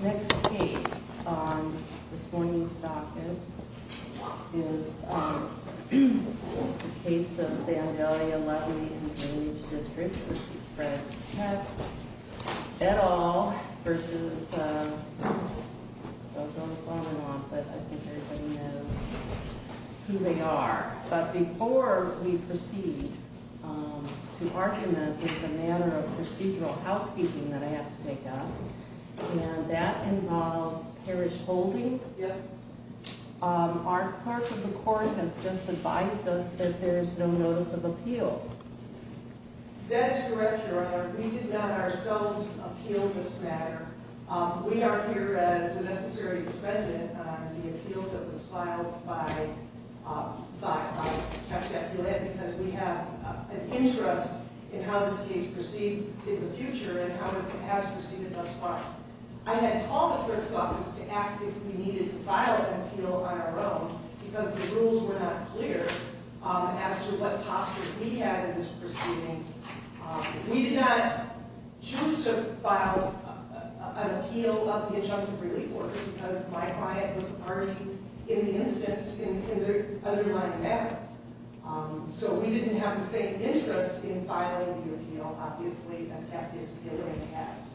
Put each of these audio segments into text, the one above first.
Next case on this morning's docket is the case of Vandalia Levee and Drainage District v. Fred Keck, et al. v. Don't know if it's on or off, but I think everybody knows who they are. But before we proceed to argument with the matter of procedural housekeeping that I have to take up, and that involves parish holding, our clerk of the court has just advised us that there is no notice of appeal. That is correct, Your Honor. We did not ourselves appeal this matter. We are here as a necessary defendant on the appeal that was filed by Cassie Esculet because we have an interest in how this case proceeds in the future and how this has proceeded thus far. I had called the clerk's office to ask if we needed to file an appeal on our own because the rules were not clear as to what posture we had in this proceeding. We did not choose to file an appeal of the adjunctive relief order because my client was already in the instance in the underlying matter. So we didn't have the same interest in filing the appeal, obviously, as Cassie Esculet has.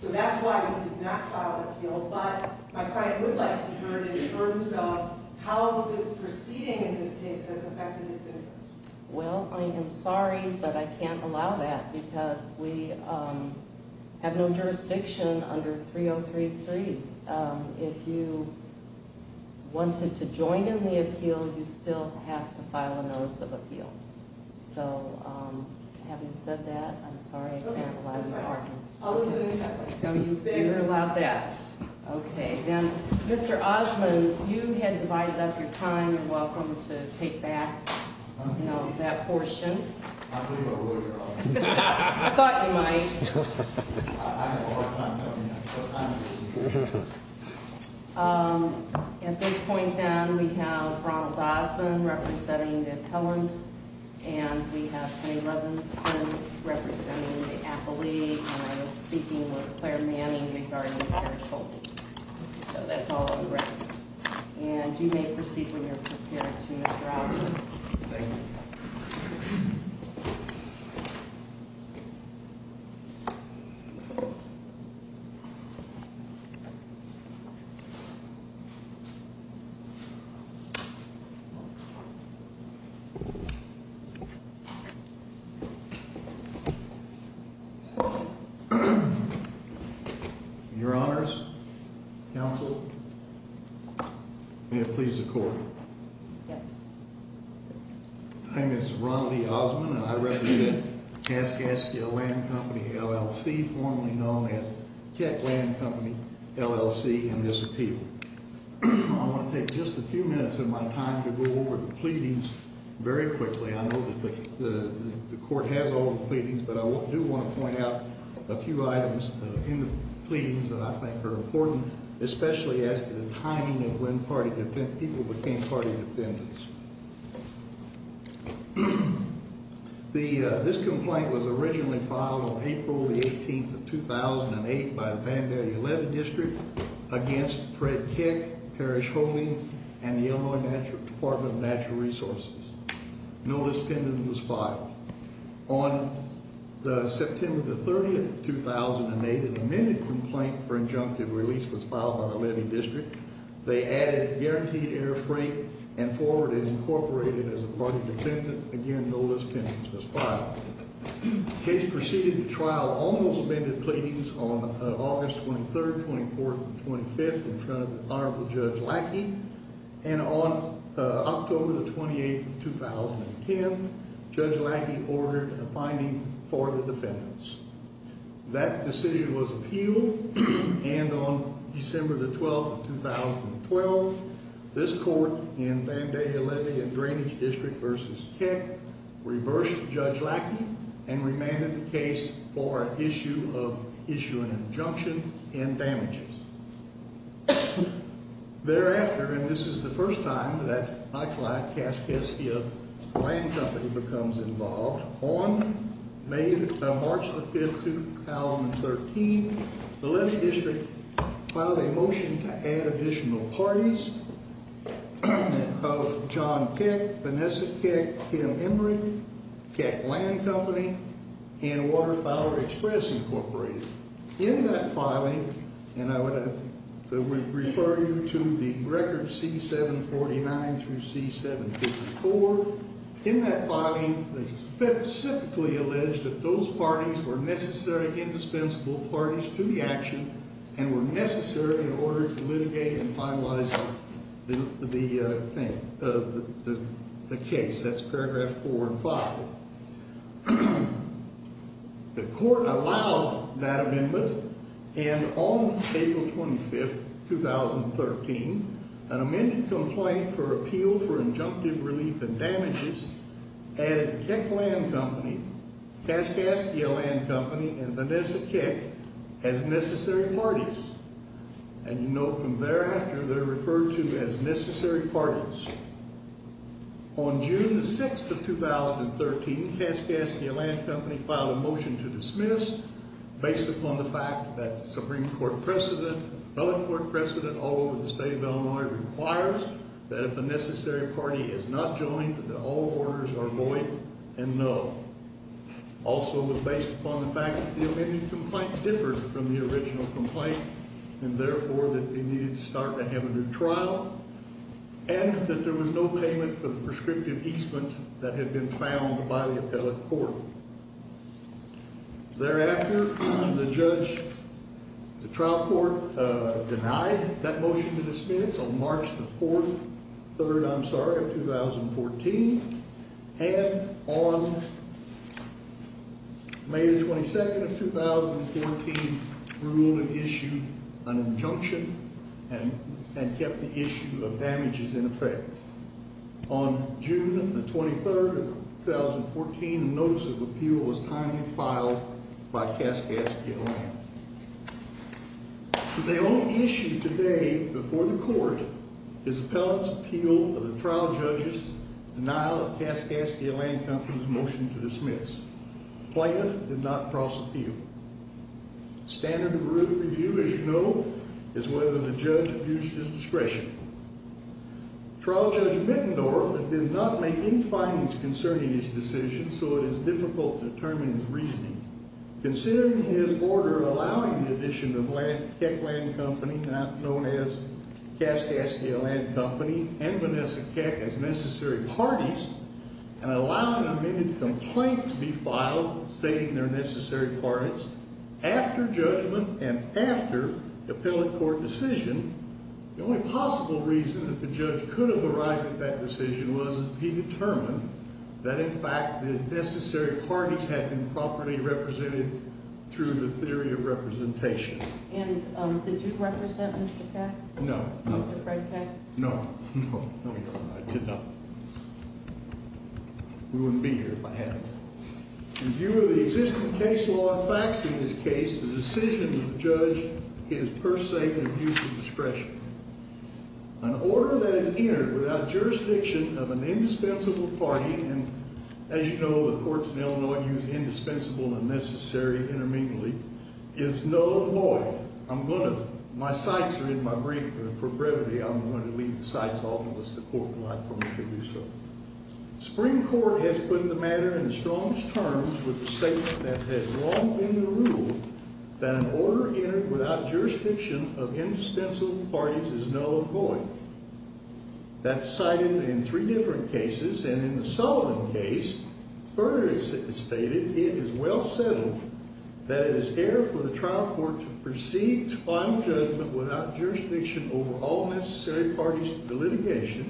So that's why we did not file an appeal, but my client would like to be heard in terms of how the proceeding in this case has affected its interest. Well, I am sorry, but I can't allow that because we have no jurisdiction under 3033. If you wanted to join in the appeal, you still have to file a notice of appeal. So having said that, I'm sorry, I can't allow that. Okay, then, Mr. Osmond, you had divided up your time. You're welcome to take back that portion. I believe I will, Your Honor. I thought you might. At this point, then, we have Ronald Osmond representing the appellant, and we have Jay Robinson representing the appellee. And I was speaking with Claire Manning regarding the carriage holdings. So that's all correct. And you may proceed when you're prepared to, Mr. Osmond. Thank you. Thank you. Your Honors, Counsel, may it please the Court. Yes. My name is Ronald E. Osmond, and I represent Kaskaskia Land Company, LLC, formerly known as Keck Land Company, LLC, in this appeal. I want to take just a few minutes of my time to go over the pleadings very quickly. I know that the Court has all the pleadings, but I do want to point out a few items in the pleadings that I think are important, especially as to the timing of when people became party defendants. This complaint was originally filed on April the 18th of 2008 by the Vandalia Levy District against Fred Keck, Parrish Holdings, and the Illinois Department of Natural Resources. No list of defendants was filed. On September the 30th, 2008, an amended complaint for injunctive release was filed by the Levy District. They added guaranteed air freight and forwarded incorporated as a party defendant. The case proceeded to trial. Almost amended pleadings on August 23rd, 24th, and 25th in front of Honorable Judge Lackey. And on October the 28th, 2010, Judge Lackey ordered a finding for the defendants. That decision was appealed, and on December the 12th, 2012, this Court in Vandalia Levy and Drainage District v. Keck reversed Judge Lackey and remanded the case for an issue of issuing an injunction and damages. Thereafter, and this is the first time that my client, Cass Keskia Land Company, becomes involved, on March the 5th, 2013, the Levy District filed a motion to add additional parties of John Keck, Vanessa Keck, Kim Emory, Keck Land Company, and Water Fowler Express Incorporated. In that filing, and I would refer you to the record C-749 through C-754, in that filing they specifically alleged that those parties were necessary, indispensable parties to the action and were necessary in order to litigate and finalize the thing, the case. That's paragraph four and five. The Court allowed that amendment, and on April 25th, 2013, an amended complaint for appeal for injunctive relief and damages added Keck Land Company, Cass Keskia Land Company, and Vanessa Keck as necessary parties. And you know from thereafter they're referred to as necessary parties. On June the 6th of 2013, Cass Keskia Land Company filed a motion to dismiss based upon the fact that the Supreme Court precedent, the other court precedent all over the state of Illinois requires that if a necessary party is not joined that all orders are void and null. Also was based upon the fact that the amended complaint differed from the original complaint and therefore that they needed to start and have a new trial and that there was no payment for the prescriptive easement that had been found by the appellate court. Thereafter, the trial court denied that motion to dismiss on March the 4th, I'm sorry, of 2014 and on May the 22nd of 2014, ruled and issued an injunction and kept the issue of damages in effect. On June the 23rd of 2014, a notice of appeal was timely filed by Cass Keskia Land. The only issue today before the court is appellate's appeal of the trial judge's denial of Cass Keskia Land Company's motion to dismiss. Plaintiff did not cross appeal. Standard of review, as you know, is whether the judge abused his discretion. Trial Judge Mittendorf did not make any findings concerning his decision, so it is difficult to determine his reasoning. Considering his order allowing the addition of Keck Land Company, now known as Cass Keskia Land Company, and Vanessa Keck as necessary parties and allowing an amended complaint to be filed stating they're necessary parties, after judgment and after appellate court decision, the only possible reason that the judge could have arrived at that decision was he determined that, in fact, the necessary parties had been properly represented through the theory of representation. And did you represent Mr. Keck? No. Mr. Fred Keck? No, no, no, I did not. We wouldn't be here if I had. In view of the existing case law and facts in this case, the decision of the judge is per se an abuse of discretion. An order that is entered without jurisdiction of an indispensable party, and, as you know, the courts in Illinois use indispensable and necessary intermediately, is no lawyer. I'm going to, my sights are in my brief, but for brevity I'm going to leave the sights off unless the court will allow me to do so. The Supreme Court has put the matter in the strongest terms with the statement that has long been the rule that an order entered without jurisdiction of indispensable parties is no lawyer. That's cited in three different cases, and in the Sullivan case, further it's stated, it is well settled that it is fair for the trial court to proceed to final judgment without jurisdiction over all necessary parties to the litigation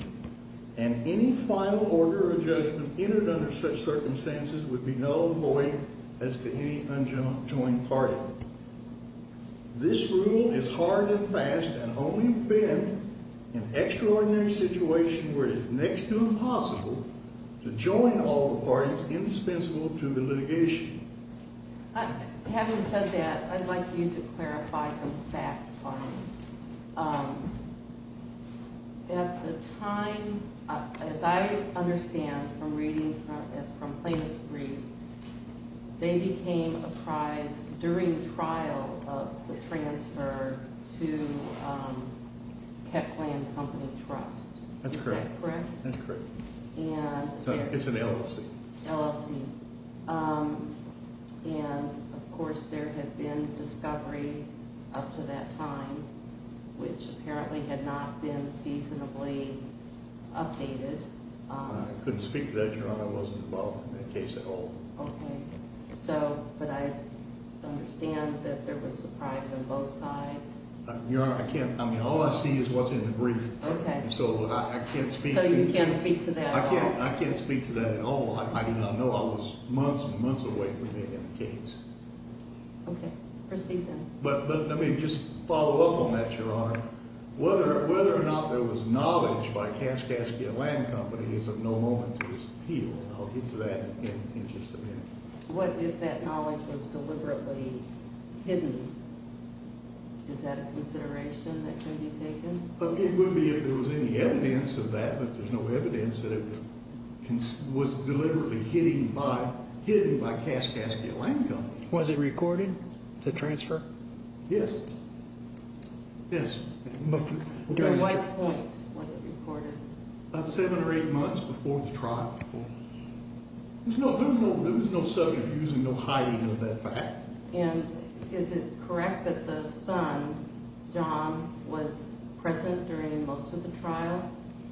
and any final order of judgment entered under such circumstances would be null and void as to any unjoined party. This rule is hard and fast and only bend in extraordinary situations where it is next to impossible to join all the parties indispensable to the litigation. Having said that, I'd like you to clarify some facts for me. At the time, as I understand from reading from plaintiff's brief, they became apprised during trial of the transfer to Keckland Company Trust. That's correct. Is that correct? That's correct. It's an LLC. LLC. And, of course, there had been discovery up to that time, which apparently had not been seasonably updated. I couldn't speak to that, Your Honor. I wasn't involved in that case at all. Okay. So, but I understand that there was surprise on both sides. Your Honor, I can't. I mean, all I see is what's in the brief. Okay. So I can't speak to that. So you can't speak to that at all? I can't speak to that at all. I do not know. I was months and months away from being in the case. Okay. Proceed, then. But let me just follow up on that, Your Honor. Whether or not there was knowledge by Kaskaskia Land Company is of no moment to be appealed. I'll get to that in just a minute. What if that knowledge was deliberately hidden? Is that a consideration that could be taken? It would be if there was any evidence of that. But there's no evidence that it was deliberately hidden by Kaskaskia Land Company. Was it recorded, the transfer? Yes. Yes. At what point was it recorded? About seven or eight months before the trial. There was no subterfuge and no hiding of that fact. And is it correct that the son, John, was present during most of the trial?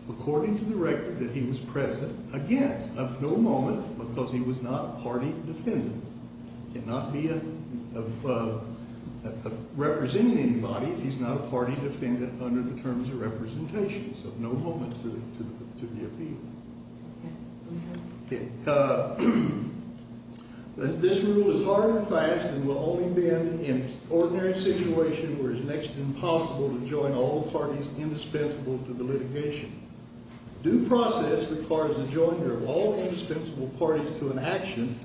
According to the record that he was present, again, of no moment because he was not a party defendant. He did not represent anybody. He's not a party defendant under the terms of representation. So no moment to be appealed. Okay. Go ahead. This rule is hard and fast and will only bend in an ordinary situation where it is next to impossible to join all parties indispensable to the litigation. Due process requires the joiner of all indispensable parties to an action.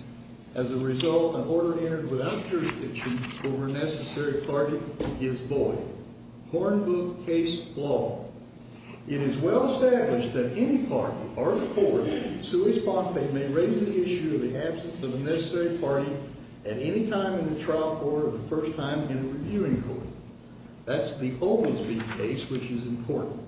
As a result, an order entered without jurisdiction over a necessary party is void. Hornbook case law. It is well established that any party or court sui sponte may raise the issue of the absence of a necessary party at any time in the trial court or the first time in a reviewing court. That's the Oglesby case, which is important.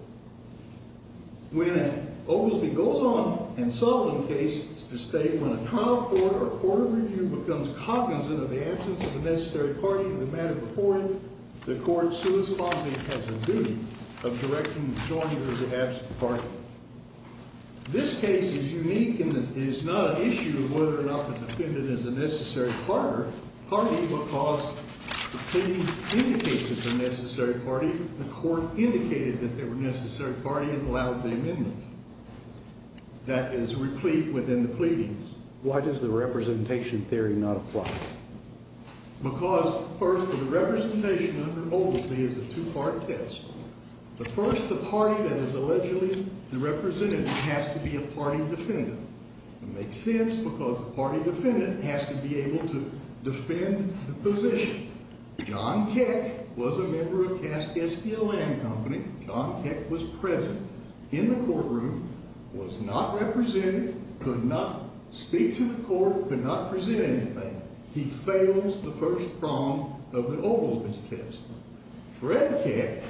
When Oglesby goes on in Sullivan case to state when a trial court or a court of review becomes cognizant of the absence of a necessary party in the matter before it, the court sui sponte has a duty of directing the joiner's absent party. This case is unique in that it is not an issue of whether or not the defendant is a necessary party because the pleadings indicates it's a necessary party. The court indicated that they were a necessary party and allowed the amendment. That is replete within the pleadings. Why does the representation theory not apply? Because first of the representation under Oglesby is a two-part test. First, the party that is allegedly the representative has to be a party defendant. It makes sense because the party defendant has to be able to defend the position. John Keck was a member of Cass SPLM Company. John Keck was present in the courtroom, was not represented, could not speak to the court, could not present anything. He fails the first prong of the Oglesby test. Fred Keck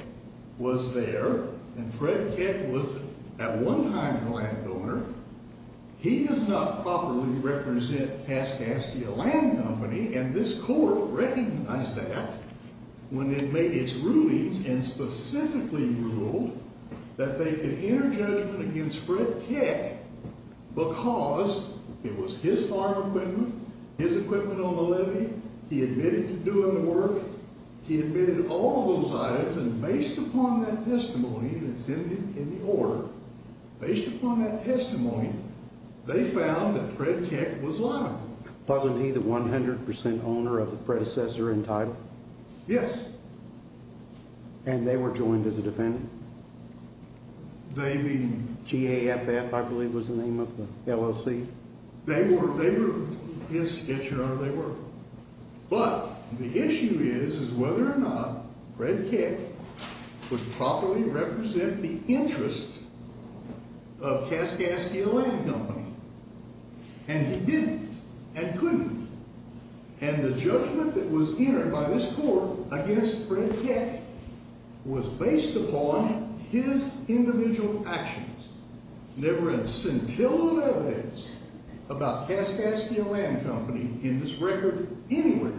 was there, and Fred Keck was at one time the landowner. He does not properly represent Cass SPLM Company, and this court recognized that when it made its rulings and specifically ruled that they could enter judgment against Fred Keck because it was his farm equipment, his equipment on the levee, he admitted to doing the work, he admitted all of those items, and based upon that testimony that's in the order, based upon that testimony, they found that Fred Keck was liable. Wasn't he the 100% owner of the predecessor in title? Yes. And they were joined as a defendant? They mean... G.A.F.F., I believe was the name of the LLC. They were. Yes, yes, Your Honor, they were. But the issue is whether or not Fred Keck would properly represent the interest of Cass SPLM Company, and he didn't and couldn't, and the judgment that was entered by this court against Fred Keck was based upon his individual actions. There were a scintilla of evidence about Cass SPLM Company in this record anywhere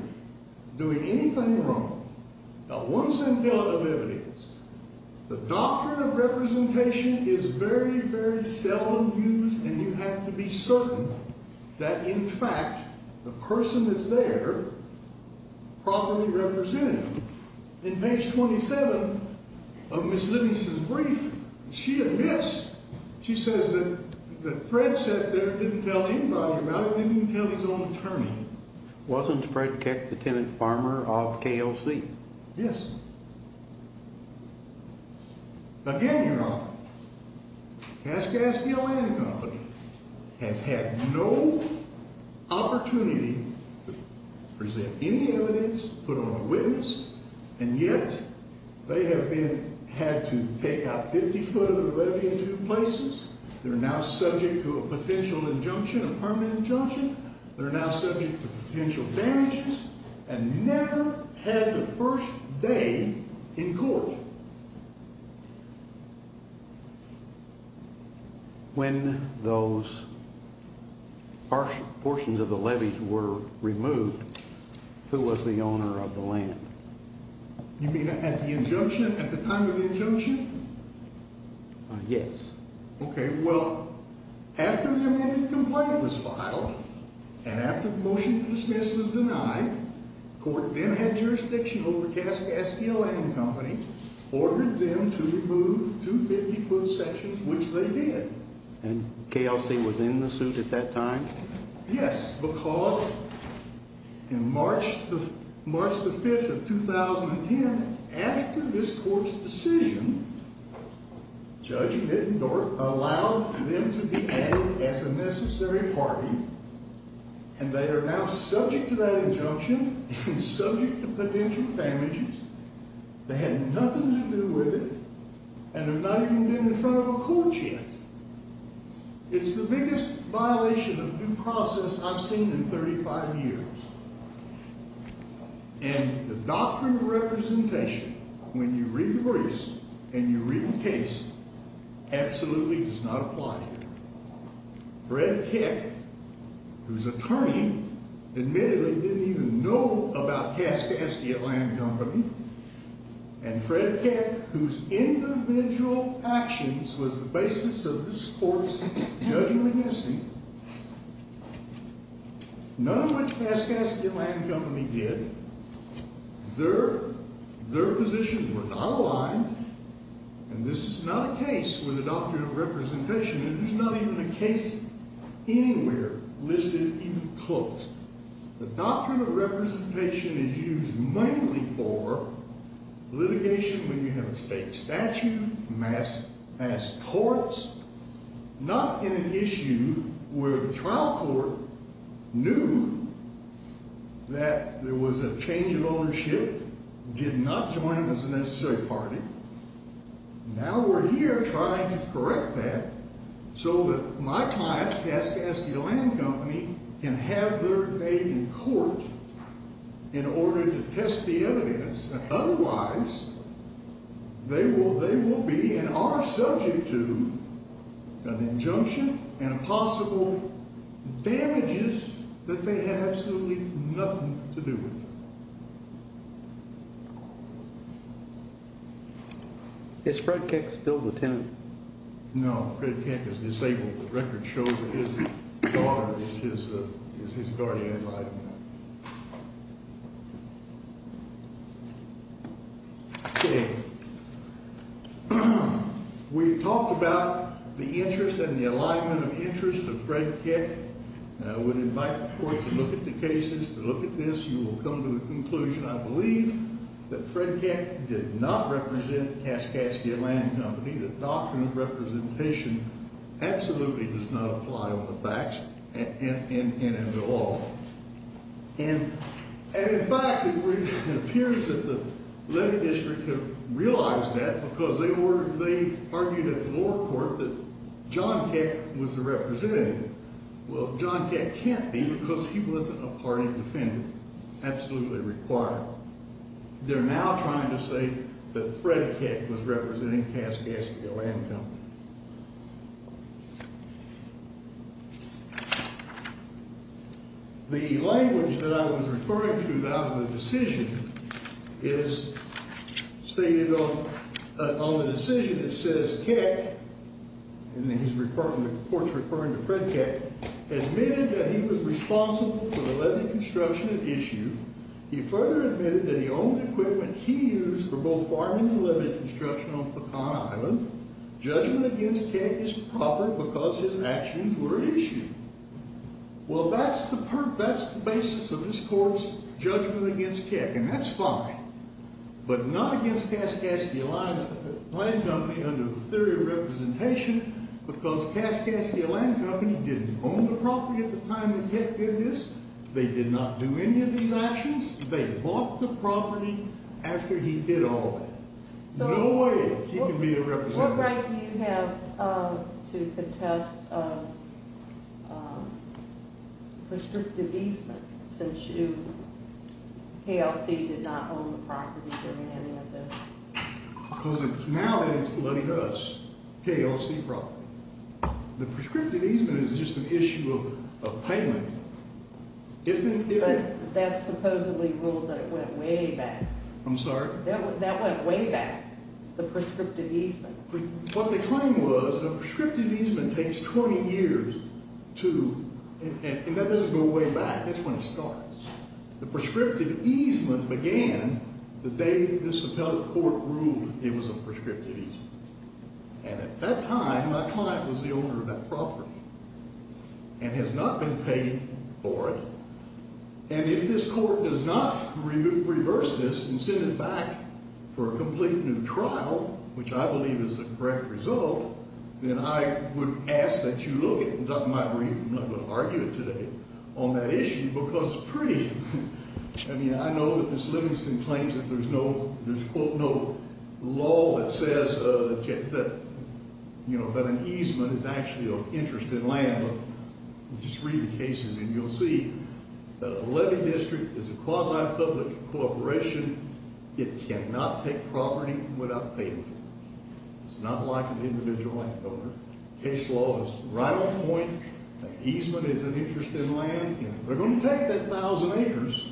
doing anything wrong, not one scintilla of evidence. The doctrine of representation is very, very seldom used, and you have to be certain that, in fact, the person that's there properly represented. In page 27 of Ms. Livingston's brief, she admits, she says that Fred sat there and didn't tell anybody about it, didn't even tell his own attorney. Wasn't Fred Keck the tenant farmer of KLC? Yes. Again, Your Honor, Cass SPLM Company has had no opportunity to present any evidence, put on a witness, and yet they have had to take out 50 foot of the levy in two places. They're now subject to a potential injunction, a permanent injunction. They're now subject to potential damages and never had the first day in court. When those portions of the levies were removed, who was the owner of the land? You mean at the time of the injunction? Yes. Okay, well, after the amended complaint was filed and after the motion to dismiss was denied, court then had jurisdiction over Cass SPLM Company, ordered them to remove two 50-foot sections, which they did. And KLC was in the suit at that time? Yes, because in March the 5th of 2010, after this court's decision, Judge Mittendorf allowed them to be added as a necessary party, and they are now subject to that injunction and subject to potential damages. They had nothing to do with it and have not even been in front of a court yet. It's the biggest violation of due process I've seen in 35 years. And the doctrine of representation, when you read the briefs and you read the case, absolutely does not apply here. Fred Keck, whose attorney admitted he didn't even know about Cass SPLM Company, and Fred Keck, whose individual actions was the basis of this court's judgment in this case, none of which Cass SPLM Company did. Their positions were not aligned, and this is not a case where the doctrine of representation, and there's not even a case anywhere listed even close the doctrine of representation is used mainly for litigation when you have a state statute, mass torts, not in an issue where the trial court knew that there was a change in ownership, did not join them as a necessary party. Now we're here trying to correct that so that my client, Cass SPLM Company, can have their day in court in order to test the evidence. Otherwise, they will be and are subject to an injunction and possible damages that they have absolutely nothing to do with. Is Fred Keck still the tenant? No, Fred Keck is disabled. The record shows that his daughter is his guardian in life. Okay. We've talked about the interest and the alignment of interest of Fred Keck. I would invite the court to look at the cases, to look at this. You will come to the conclusion, I believe, that Fred Keck did not represent Cass SPLM Company. The doctrine of representation absolutely does not apply on the facts and in the law. And, in fact, it appears that the Levy District have realized that because they argued at the lower court that John Keck was the representative. Well, John Keck can't be because he wasn't a party defendant. Absolutely required. They're now trying to say that Fred Keck was representing Cass SPLM Company. The language that I was referring to out of the decision is stated on the decision. It says Keck, and the court's referring to Fred Keck, admitted that he was responsible for the levy construction at issue. He further admitted that he owned the equipment he used for both farming and levy construction on Pecan Island. Judgment against Keck is proper because his actions were at issue. Well, that's the basis of this court's judgment against Keck, and that's fine. But not against Cass SPLM Company under the theory of representation because Cass SPLM Company didn't own the property at the time that Keck did this. They did not do any of these actions. They bought the property after he did all that. No way he can be a representative. What right do you have to contest prescriptive easement since you, KLC did not own the property during any of this? Because it's now that it's flooded us, KLC property. The prescriptive easement is just an issue of payment. But that supposedly ruled that it went way back. I'm sorry? That went way back, the prescriptive easement. What the claim was, a prescriptive easement takes 20 years to, and that doesn't go way back. That's when it starts. The prescriptive easement began the day this appellate court ruled it was a prescriptive easement. And at that time, my client was the owner of that property and has not been paid for it. And if this court does not reverse this and send it back for a complete new trial, which I believe is the correct result, then I would ask that you look at my brief, and I'm not going to argue it today, on that issue because it's pretty. I mean, I know that this Livingston claims that there's no, there's, quote, no law that says that, you know, that an easement is actually of interest in land. But just read the cases, and you'll see that a levy district is a quasi-public corporation. It cannot take property without paying for it. It's not like an individual landowner. Case law is right on point. An easement is an interest in land. They're going to take that 1,000 acres,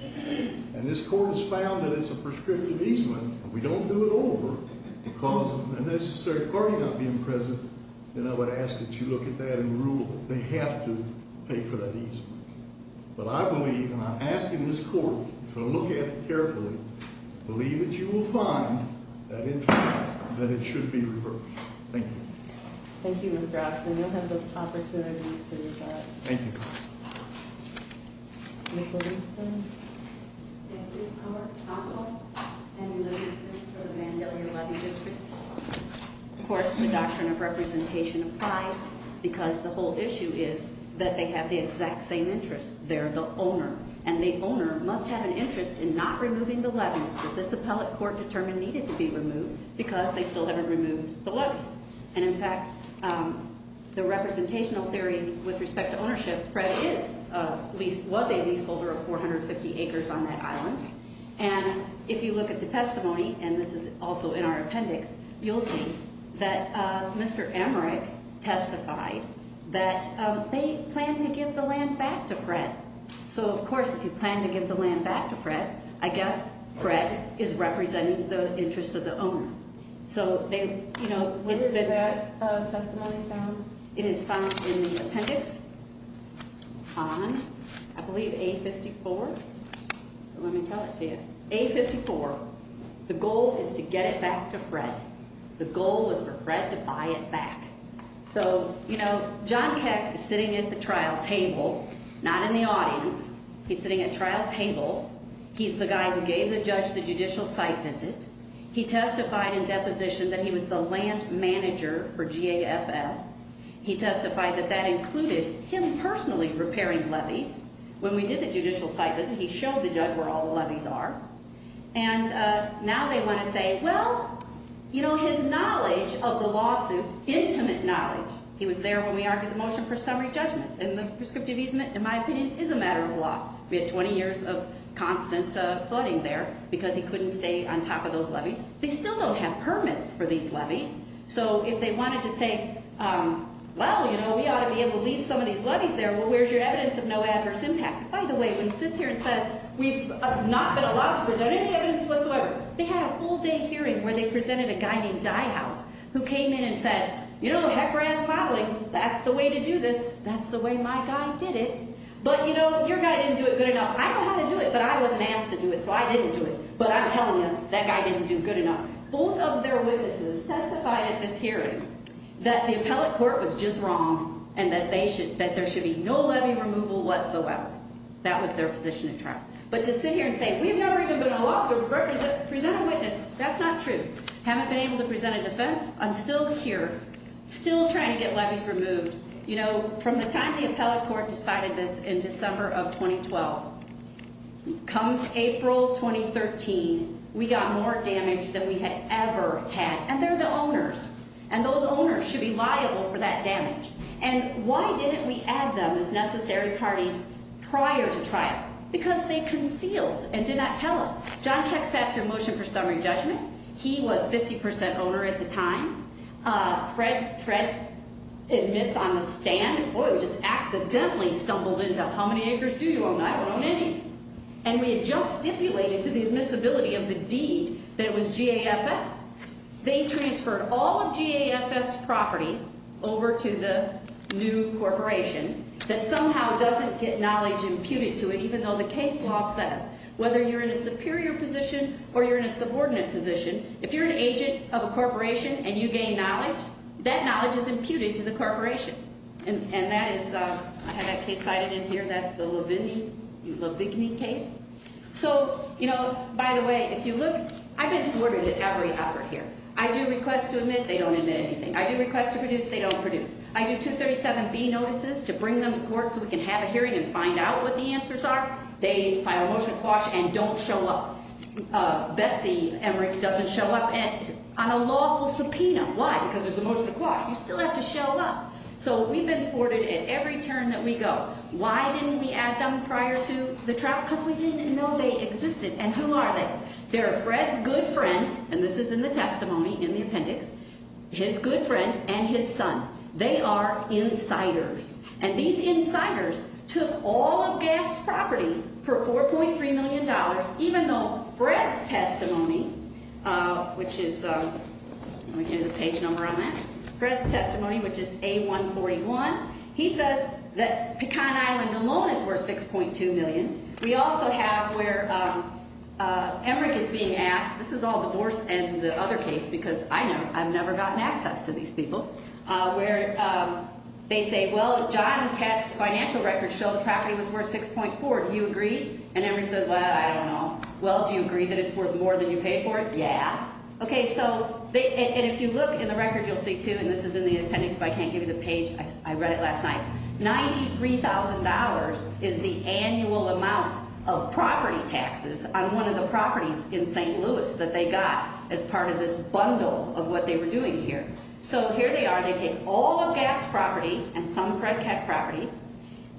and this court has found that it's a prescriptive easement, and we don't do it over because of the necessary party not being present, then I would ask that you look at that and rule that they have to pay for that easement. But I believe, and I'm asking this court to look at it carefully, believe that you will find that, in fact, that it should be reversed. Thank you. Thank you, Mr. Oxman. You'll have the opportunity to respond. Thank you. Ms. Livingston. If this court cancels any levy district for the Mandela Levy District, of course the doctrine of representation applies because the whole issue is that they have the exact same interest. They're the owner, and the owner must have an interest in not removing the levies that this appellate court determined needed to be removed because they still haven't removed the levies. And, in fact, the representational theory with respect to ownership, Fred was a leaseholder of 450 acres on that island, and if you look at the testimony, and this is also in our appendix, you'll see that Mr. Emmerich testified that they planned to give the land back to Fred. So, of course, if you plan to give the land back to Fred, I guess Fred is representing the interest of the owner. So, you know, what's been that testimony found? It is found in the appendix on, I believe, A54. Let me tell it to you. A54, the goal is to get it back to Fred. The goal was for Fred to buy it back. So, you know, John Keck is sitting at the trial table, not in the audience. He's sitting at trial table. He's the guy who gave the judge the judicial site visit. He testified in deposition that he was the land manager for GAFL. He testified that that included him personally repairing levies. When we did the judicial site visit, he showed the judge where all the levies are. And now they want to say, well, you know, his knowledge of the lawsuit, intimate knowledge, he was there when we argued the motion for summary judgment. And the prescriptive easement, in my opinion, is a matter of law. We had 20 years of constant flooding there because he couldn't stay on top of those levies. They still don't have permits for these levies. So if they wanted to say, well, you know, we ought to be able to leave some of these levies there, well, where's your evidence of no adverse impact? By the way, when he sits here and says we've not been allowed to present any evidence whatsoever, they had a full-day hearing where they presented a guy named Dyehouse who came in and said, you know, heck-razz modeling, that's the way to do this. That's the way my guy did it. But, you know, your guy didn't do it good enough. I know how to do it, but I wasn't asked to do it, so I didn't do it. But I'm telling you, that guy didn't do good enough. Both of their witnesses testified at this hearing that the appellate court was just wrong and that there should be no levy removal whatsoever. That was their position at trial. But to sit here and say we've never even been allowed to present a witness, that's not true. Haven't been able to present a defense, I'm still here, still trying to get levies removed. You know, from the time the appellate court decided this in December of 2012, comes April 2013, we got more damage than we had ever had. And they're the owners, and those owners should be liable for that damage. And why didn't we add them as necessary parties prior to trial? Because they concealed and did not tell us. John Keck sat through motion for summary judgment. He was 50 percent owner at the time. Fred admits on the stand, and boy, we just accidentally stumbled into how many acres do you own? I don't own any. And we had just stipulated to the admissibility of the deed that it was GAFF. They transferred all of GAFF's property over to the new corporation that somehow doesn't get knowledge imputed to it, even though the case law says, whether you're in a superior position or you're in a subordinate position, if you're an agent of a corporation and you gain knowledge, that knowledge is imputed to the corporation. And that is, I have that case cited in here. That's the Lavigne case. So, you know, by the way, if you look, I've been thwarted at every effort here. I do requests to admit. They don't admit anything. I do requests to produce. They don't produce. I do 237B notices to bring them to court so we can have a hearing and find out what the answers are. They file a motion to quash and don't show up. Betsy Emrick doesn't show up on a lawful subpoena. Why? Because there's a motion to quash. You still have to show up. So we've been thwarted at every turn that we go. Why didn't we add them prior to the trial? Because we didn't know they existed. And who are they? They're Fred's good friend, and this is in the testimony in the appendix, his good friend and his son. They are insiders. And these insiders took all of GAFF's property for $4.3 million, even though Fred's testimony, which is, let me get a page number on that, Fred's testimony, which is A141. He says that Pecan Island alone is worth $6.2 million. We also have where Emrick is being asked, this is all divorce and the other case because I've never gotten access to these people, where they say, well, John Keck's financial records show the property was worth $6.4. Do you agree? And Emrick says, well, I don't know. Well, do you agree that it's worth more than you paid for it? Yeah. Okay, so if you look in the record, you'll see, too, and this is in the appendix, but I can't give you the page. I read it last night. $93,000 is the annual amount of property taxes on one of the properties in St. Louis that they got as part of this bundle of what they were doing here. So here they are. They take all of GAFF's property and some Fred Keck property,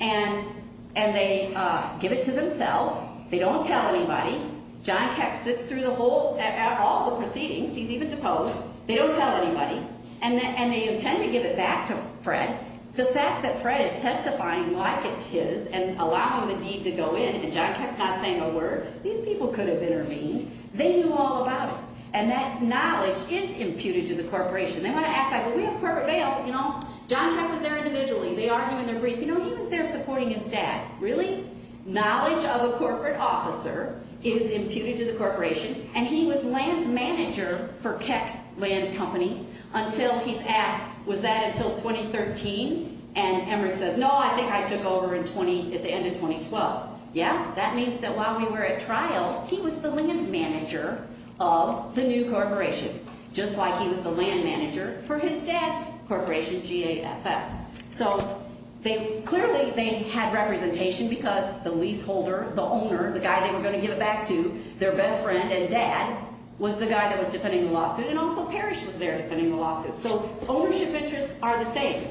and they give it to themselves. They don't tell anybody. John Keck sits through all the proceedings. He's even deposed. They don't tell anybody, and they intend to give it back to Fred. The fact that Fred is testifying like it's his and allowing the deed to go in and John Keck's not saying a word, these people could have intervened. They knew all about it, and that knowledge is imputed to the corporation. They want to act like, well, we have corporate bail, but, you know, John Keck was there individually. They argued in their brief. You know, he was there supporting his dad. Really? Knowledge of a corporate officer is imputed to the corporation, and he was land manager for Keck Land Company until he's asked, was that until 2013? And Emmerich says, no, I think I took over at the end of 2012. Yeah? That means that while we were at trial, he was the land manager of the new corporation, just like he was the land manager for his dad's corporation, GAFF. So clearly they had representation because the leaseholder, the owner, the guy they were going to give it back to, their best friend and dad, was the guy that was defending the lawsuit. And also Parrish was there defending the lawsuit. So ownership interests are the same.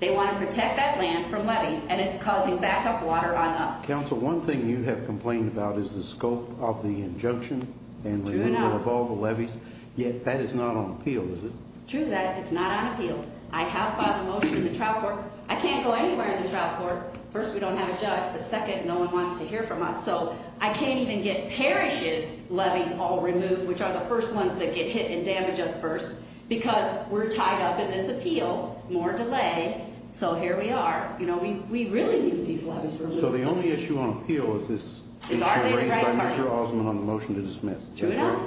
They want to protect that land from levies, and it's causing backup water on us. Counsel, one thing you have complained about is the scope of the injunction and removal of all the levies. True enough. Yet that is not on appeal, is it? True that. It's not on appeal. I have filed a motion in the trial court. I can't go anywhere in the trial court. First, we don't have a judge, but second, no one wants to hear from us. So I can't even get Parrish's levies all removed, which are the first ones that get hit and damage us first, because we're tied up in this appeal, more delay. So here we are. We really knew these levies were a little silly. So the only issue on appeal is this issue raised by Mr. Osmond on the motion to dismiss. True enough.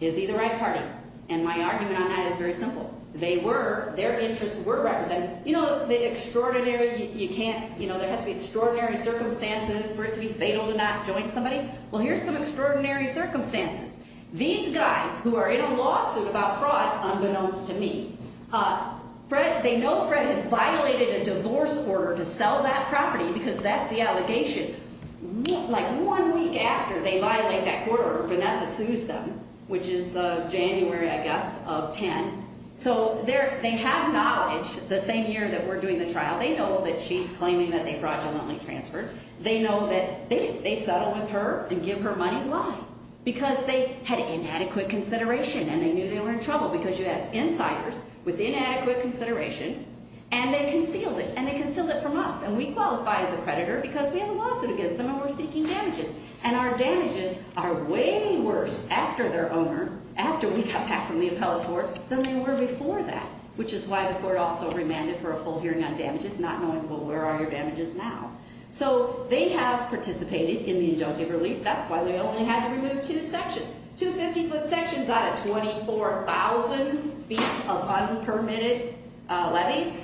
Is he the right partner? And my argument on that is very simple. They were, their interests were represented. You know, the extraordinary, you can't, you know, there has to be extraordinary circumstances for it to be fatal to not join somebody. Well, here's some extraordinary circumstances. These guys who are in a lawsuit about fraud, unbeknownst to me, Fred, they know Fred has violated a divorce order to sell that property because that's the allegation. Like one week after they violate that court order, Vanessa sues them, which is January, I guess, of 10. So they have knowledge the same year that we're doing the trial. They know that she's claiming that they fraudulently transferred. They know that they settled with her and give her money. Why? Because they had inadequate consideration, and they knew they were in trouble because you have insiders with inadequate consideration, and they concealed it, and they concealed it from us. And we qualify as a creditor because we have a lawsuit against them, and we're seeking damages. And our damages are way worse after their owner, after we got back from the appellate court, than they were before that, which is why the court also remanded for a full hearing on damages, not knowing, well, where are your damages now? So they have participated in the injunctive relief. That's why they only had to remove two sections, two 50-foot sections out of 24,000 feet of unpermitted levees.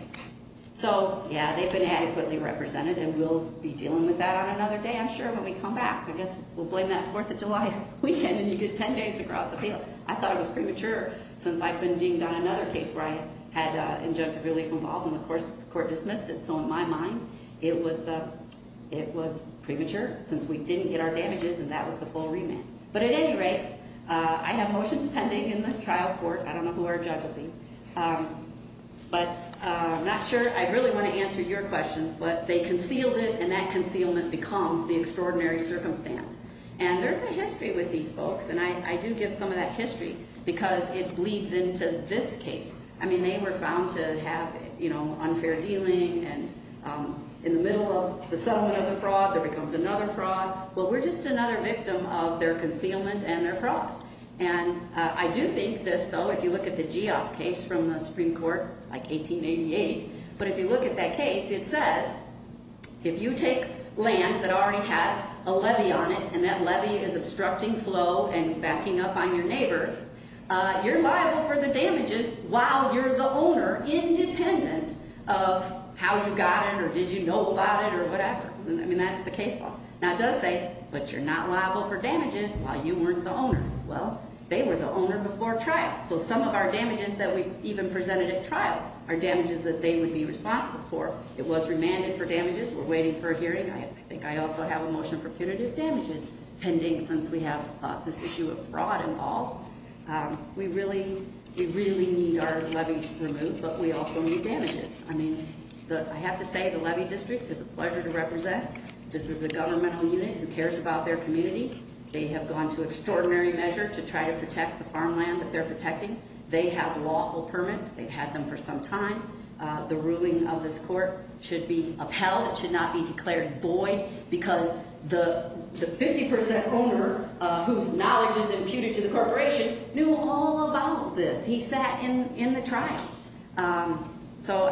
So, yeah, they've been adequately represented, and we'll be dealing with that on another day, I'm sure, when we come back. I guess we'll blame that Fourth of July weekend, and you get 10 days to cross the field. I thought it was premature since I've been deemed on another case where I had injunctive relief involved, and the court dismissed it. So in my mind, it was premature since we didn't get our damages, and that was the full remand. But at any rate, I have motions pending in the trial court. I don't know who our judge will be, but I'm not sure. I really want to answer your questions, but they concealed it, and that concealment becomes the extraordinary circumstance. And there's a history with these folks, and I do give some of that history because it bleeds into this case. I mean, they were found to have unfair dealing, and in the middle of the settlement of the fraud, there becomes another fraud. Well, we're just another victim of their concealment and their fraud. And I do think this, though, if you look at the Geoff case from the Supreme Court, it's like 1888. But if you look at that case, it says if you take land that already has a levy on it, and that levy is obstructing flow and backing up on your neighbor, you're liable for the damages while you're the owner, independent of how you got it or did you know about it or whatever. I mean, that's the case law. Now, it does say, but you're not liable for damages while you weren't the owner. Well, they were the owner before trial. So some of our damages that we even presented at trial are damages that they would be responsible for. It was remanded for damages. We're waiting for a hearing. I think I also have a motion for punitive damages pending since we have this issue of fraud involved. We really need our levies removed, but we also need damages. I mean, I have to say the levy district is a pleasure to represent. This is a governmental unit who cares about their community. They have gone to extraordinary measure to try to protect the farmland that they're protecting. They have lawful permits. They've had them for some time. The ruling of this court should be upheld. It should not be declared void because the 50% owner whose knowledge is imputed to the corporation knew all about this. He sat in the trial. So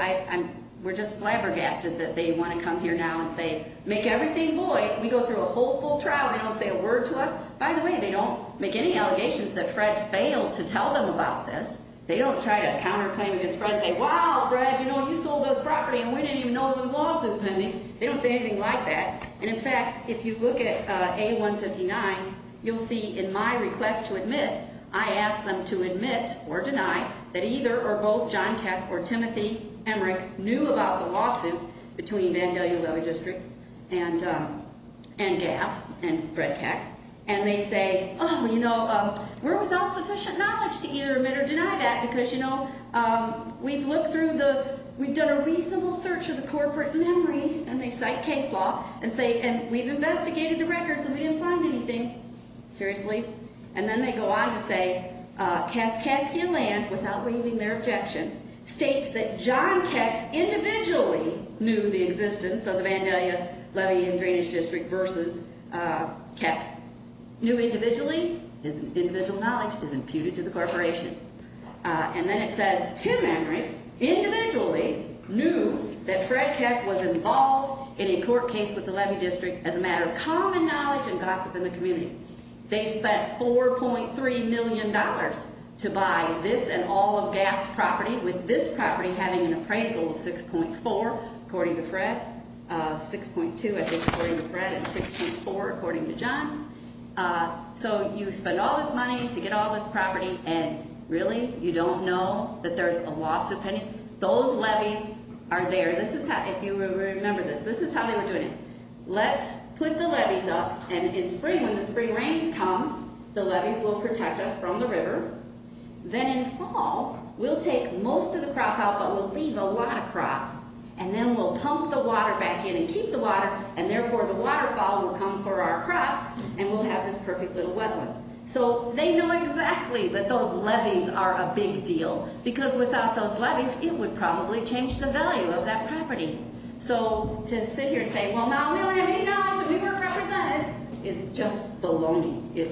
we're just flabbergasted that they want to come here now and say, make everything void. We go through a whole full trial. They don't say a word to us. By the way, they don't make any allegations that Fred failed to tell them about this. They don't try to counterclaim against Fred and say, wow, Fred, you know, you sold this property and we didn't even know it was lawsuit pending. They don't say anything like that. And, in fact, if you look at A159, you'll see in my request to admit, I asked them to admit or deny that either or both John Keck or Timothy Emmerich knew about the lawsuit between Vandalia Levy District and GAF and Fred Keck. And they say, oh, you know, we're without sufficient knowledge to either admit or deny that because, you know, we've looked through the we've done a reasonable search of the corporate memory. And they cite case law and say, and we've investigated the records and we didn't find anything. Seriously. And then they go on to say Kaskaskia Land, without waiving their objection, states that John Keck individually knew the existence of the Vandalia Levy and Drainage District versus Keck. Knew individually. His individual knowledge is imputed to the corporation. And then it says Tim Emmerich individually knew that Fred Keck was involved in a court case with the Levy District as a matter of common knowledge and gossip in the community. They spent four point three million dollars to buy this and all of GAF's property with this property having an appraisal of six point four, according to Fred. Six point two, according to Fred and six point four, according to John. So you spend all this money to get all this property. And really, you don't know that there's a loss of those levies are there. This is how if you remember this, this is how they were doing it. Let's put the levees up. And in spring, when the spring rains come, the levees will protect us from the river. Then in fall, we'll take most of the crop out, but we'll leave a lot of crop and then we'll pump the water back in and keep the water. And therefore, the waterfall will come for our crops and we'll have this perfect little wetland. So they know exactly that those levees are a big deal because without those levees, it would probably change the value of that property. So to sit here and say, well, now we don't have any knowledge. We weren't represented. It's just bologna. It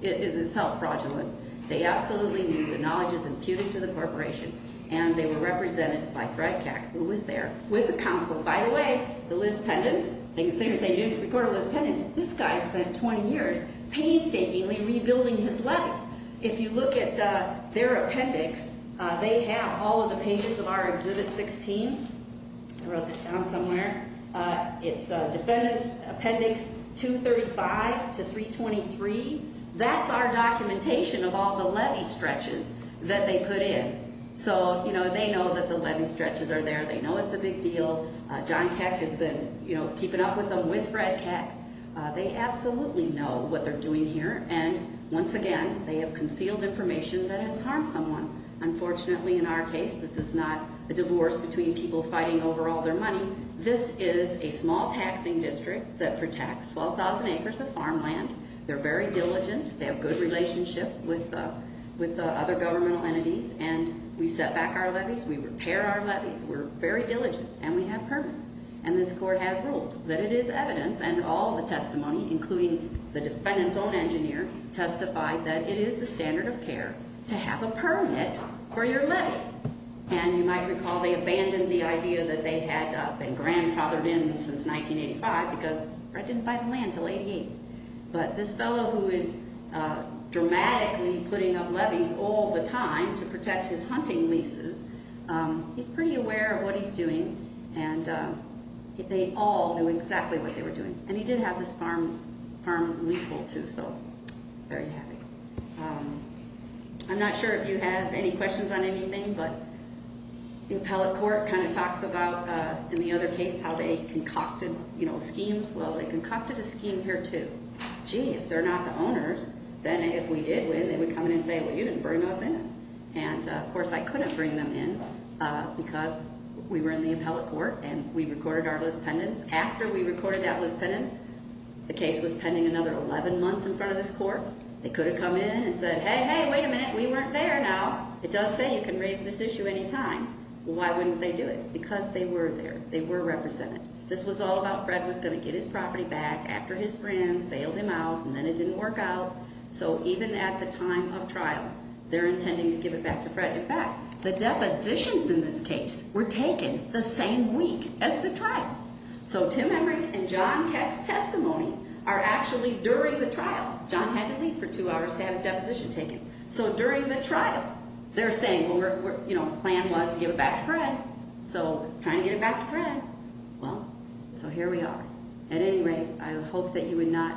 is itself fraudulent. They absolutely knew the knowledge is imputed to the corporation, and they were represented by Fred Kack, who was there with the council. By the way, the Liz Pendens, I consider saying you didn't record Liz Pendens. This guy spent 20 years painstakingly rebuilding his levees. If you look at their appendix, they have all of the pages of our Exhibit 16. I wrote that down somewhere. It's Defendants Appendix 235 to 323. That's our documentation of all the levee stretches that they put in. So, you know, they know that the levee stretches are there. They know it's a big deal. John Kack has been, you know, keeping up with them with Fred Kack. They absolutely know what they're doing here, and once again, they have concealed information that has harmed someone. Unfortunately, in our case, this is not a divorce between people fighting over all their money. This is a small taxing district that protects 12,000 acres of farmland. They're very diligent. They have good relationship with the other governmental entities, and we set back our levees. We repair our levees. We're very diligent, and we have permits. And this court has ruled that it is evidence, and all the testimony, including the defendant's own engineer, testified that it is the standard of care to have a permit for your levee. And you might recall they abandoned the idea that they had been grandfathered in since 1985 because Fred didn't buy the land until 88. But this fellow who is dramatically putting up levees all the time to protect his hunting leases, he's pretty aware of what he's doing, and they all knew exactly what they were doing. And he did have this farm leasehold, too, so very happy. I'm not sure if you have any questions on anything, but the appellate court kind of talks about, in the other case, how they concocted schemes. Well, they concocted a scheme here, too. Gee, if they're not the owners, then if we did win, they would come in and say, well, you didn't bring us in. And, of course, I couldn't bring them in because we were in the appellate court and we recorded our list pendants. After we recorded that list pendants, the case was pending another 11 months in front of this court. They could have come in and said, hey, hey, wait a minute, we weren't there now. It does say you can raise this issue any time. Why wouldn't they do it? Because they were there. They were represented. This was all about Fred was going to get his property back after his friends bailed him out, and then it didn't work out. So even at the time of trial, they're intending to give it back to Fred. In fact, the depositions in this case were taken the same week as the trial. So Tim Emmerich and John Keck's testimony are actually during the trial. John had to leave for two hours to have his deposition taken. So during the trial, they're saying, you know, the plan was to give it back to Fred. So trying to get it back to Fred. Well, so here we are. At any rate, I hope that you would not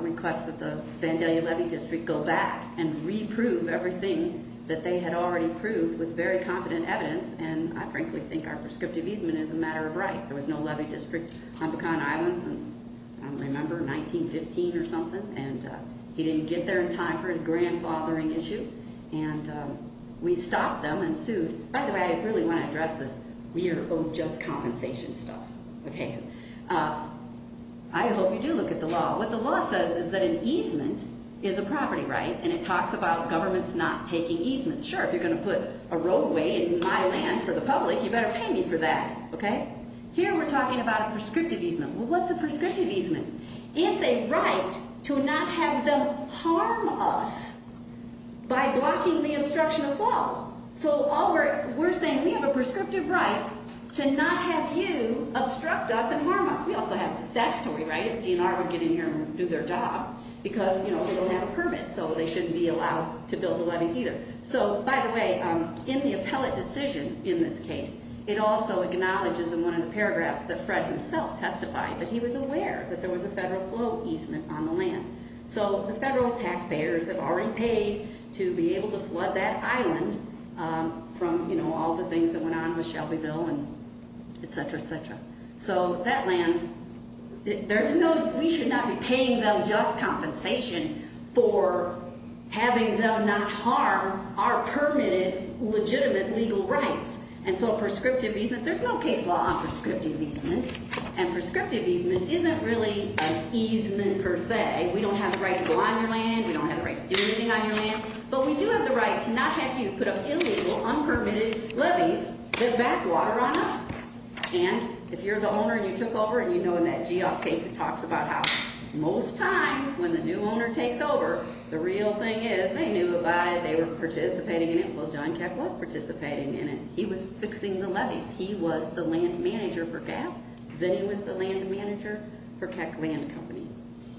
request that the Vandalia Levy District go back and reprove everything that they had already proved with very competent evidence. And I frankly think our prescriptive easement is a matter of right. There was no levy district on Pecan Island since, I don't remember, 1915 or something. And he didn't get there in time for his grandfathering issue. And we stopped them and sued. By the way, I really want to address this. We are owed just compensation stuff. Okay. I hope you do look at the law. What the law says is that an easement is a property right, and it talks about governments not taking easements. Sure, if you're going to put a roadway in my land for the public, you better pay me for that. Okay. Here we're talking about a prescriptive easement. Well, what's a prescriptive easement? It's a right to not have them harm us by blocking the obstruction of law. So we're saying we have a prescriptive right to not have you obstruct us and harm us. We also have a statutory right if DNR would get in here and do their job because, you know, we don't have a permit. So they shouldn't be allowed to build the levees either. So, by the way, in the appellate decision in this case, it also acknowledges in one of the paragraphs that Fred himself testified that he was aware that there was a federal flow easement on the land. So the federal taxpayers have already paid to be able to flood that island from, you know, all the things that went on with Shelbyville and et cetera, et cetera. So that land, there's no, we should not be paying them just compensation for having them not harm our permitted legitimate legal rights. And so prescriptive easement, there's no case law on prescriptive easement, and prescriptive easement isn't really an easement per se. We don't have the right to go on your land. We don't have the right to do anything on your land. But we do have the right to not have you put up illegal, unpermitted levees that backwater on us. And if you're the owner and you took over, and you know in that Geoff case it talks about how most times when the new owner takes over, the real thing is they knew about it. They were participating in it. Well, John Keck was participating in it. He was fixing the levees. He was the land manager for GAF. Then he was the land manager for Keck Land Company.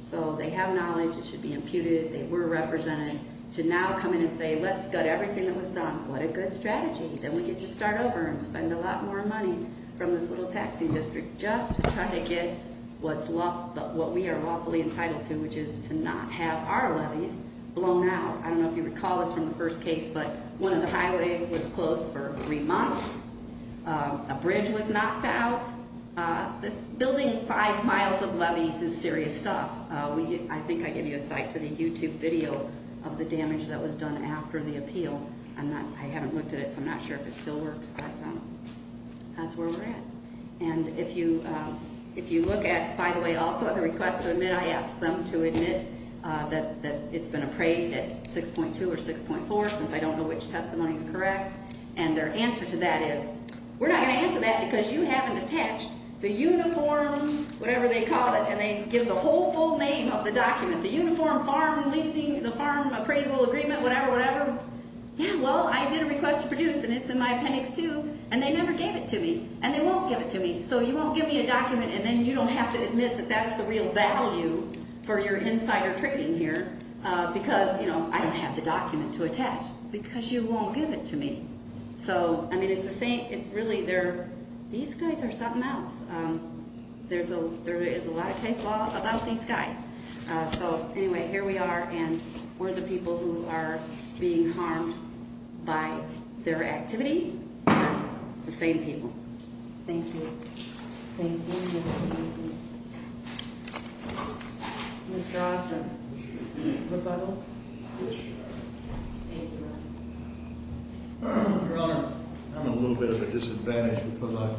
So they have knowledge. It should be imputed. They were represented to now come in and say, let's gut everything that was done. What a good strategy. Then we get to start over and spend a lot more money from this little taxing district just to try to get what we are lawfully entitled to, which is to not have our levees blown out. I don't know if you recall this from the first case, but one of the highways was closed for three months. A bridge was knocked out. Building five miles of levees is serious stuff. I think I gave you a site for the YouTube video of the damage that was done after the appeal. I haven't looked at it, so I'm not sure if it still works, but that's where we're at. And if you look at, by the way, also at the request to admit, I asked them to admit that it's been appraised at 6.2 or 6.4, since I don't know which testimony is correct. And their answer to that is, we're not going to answer that because you haven't attached the uniform, whatever they call it, and they give the whole full name of the document, the uniform, farm, leasing, the farm appraisal agreement, whatever, whatever. Yeah, well, I did a request to produce, and it's in my appendix too, and they never gave it to me, and they won't give it to me. So you won't give me a document, and then you don't have to admit that that's the real value for your insider trading here, because, you know, I don't have the document to attach, because you won't give it to me. So, I mean, it's the same, it's really their, these guys are something else. There is a lot of case law about these guys. So, anyway, here we are, and we're the people who are being harmed by their activity, and it's the same people. Thank you. Thank you. Thank you. Thank you. Mr. Osmond, would you like to speak in rebuttal? Yes, Your Honor. Thank you, Your Honor. Your Honor, I'm in a little bit of a disadvantage because I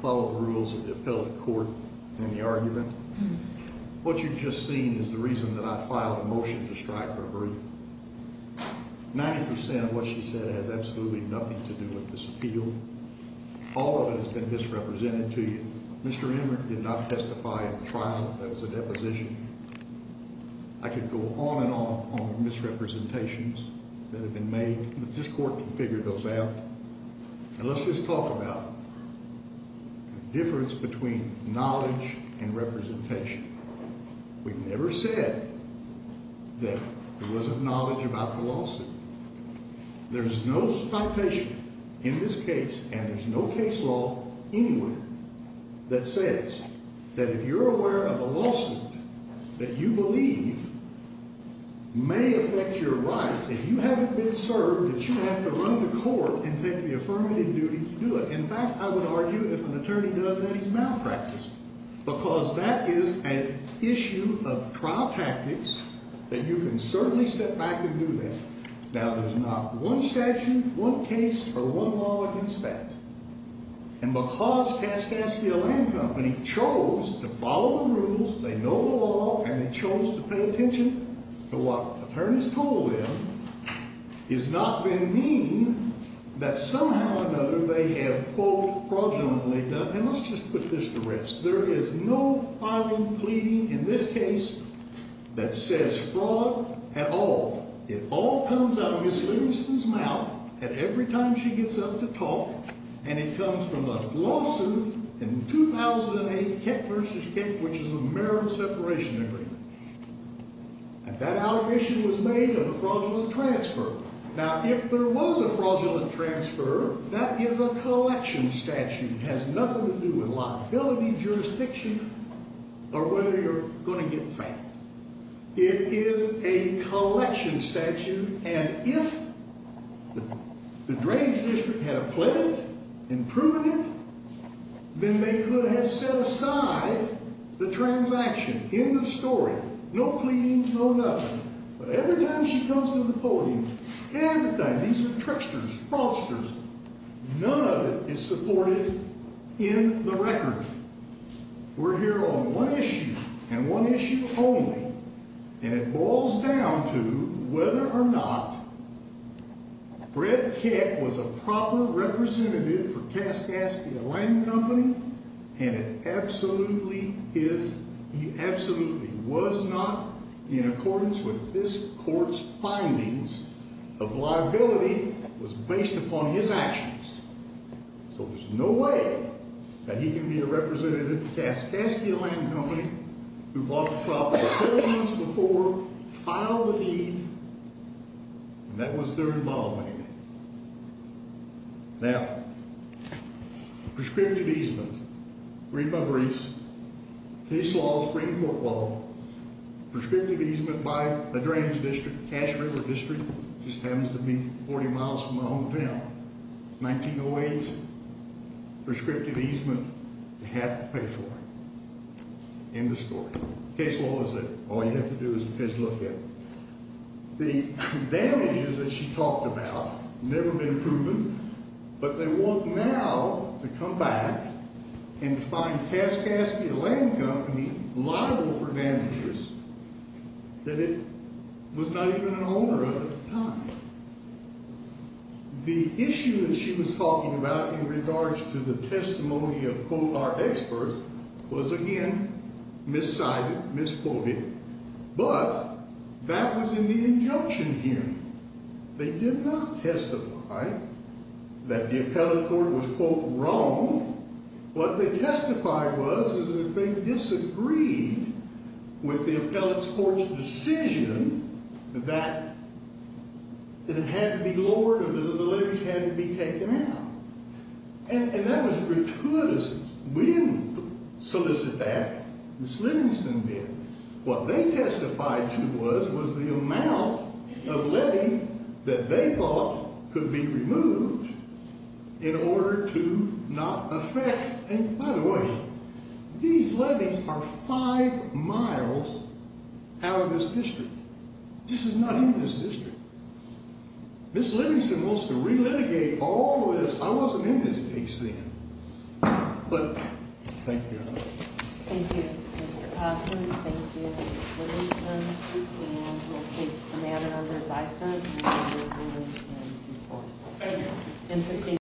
follow the rules of the appellate court in the argument. What you've just seen is the reason that I filed a motion to strike for a brief. Ninety percent of what she said has absolutely nothing to do with this appeal. All of it has been misrepresented to you. Mr. Emmer did not testify in the trial. That was a deposition. I could go on and on on the misrepresentations that have been made, but this court can figure those out. And let's just talk about the difference between knowledge and representation. We've never said that there wasn't knowledge about philosophy. There's no citation in this case, and there's no case law anywhere that says that if you're aware of a lawsuit that you believe may affect your rights, if you haven't been served, that you have to run to court and take the affirmative duty to do it. In fact, I would argue if an attorney does that, he's malpracticed because that is an issue of trial tactics that you can certainly step back and do that. Now, there's not one statute, one case, or one law against that. And because Kaskaskia Land Company chose to follow the rules, they know the law, and they chose to pay attention to what attorneys told them, it's not going to mean that somehow or another they have, quote, fraudulently done it. And let's just put this to rest. There is no filing plea in this case that says fraud at all. It all comes out of Ms. Livingston's mouth at every time she gets up to talk, and it comes from a lawsuit in 2008, Keck v. Keck, which is a marriage separation agreement. And that allegation was made of a fraudulent transfer. Now, if there was a fraudulent transfer, that is a collection statute. It has nothing to do with liability, jurisdiction, or whether you're going to get fined. It is a collection statute. And if the Drains District had appled it and proven it, then they could have set aside the transaction, end of story, no pleadings, no nothing. But every time she comes to the podium, every time, these are tricksters, fraudsters, none of it is supported in the record. We're here on one issue and one issue only, and it boils down to whether or not Fred Keck was a proper representative for Kaskaskia Land Company, and it absolutely is, he absolutely was not in accordance with this court's findings of liability was based upon his actions. So there's no way that he can be a representative for Kaskaskia Land Company, who bought the property three months before, filed the deed, and that was their involvement in it. Now, prescriptive easement. Read my briefs. Case law, Supreme Court law. Prescriptive easement by the Drains District, Kash River District, just happens to be 40 miles from my hometown. 1908, prescriptive easement, they had to pay for it. End of story. Case law is it. All you have to do is look at it. The damages that she talked about have never been proven, but they want now to come back and find Kaskaskia Land Company liable for damages that it was not even an owner of at the time. The issue that she was talking about in regards to the testimony of, quote, our experts was, again, miscited, misquoted, but that was in the injunction here. They did not testify that the appellate court was, quote, wrong. What they testified was is that they disagreed with the appellate court's decision that it had to be lowered or the letters had to be taken out. And that was gratuitous. We didn't solicit that. Ms. Livingston did. What they testified to was, was the amount of levy that they thought could be removed in order to not affect. And by the way, these levies are five miles out of this district. This is not in this district. Ms. Livingston wants to relitigate all this. I wasn't in this case then. But thank you. Thank you, Mr. Coffman. Thank you, Ms. Livingston. And we'll take the matter under advice then. Thank you. Interesting.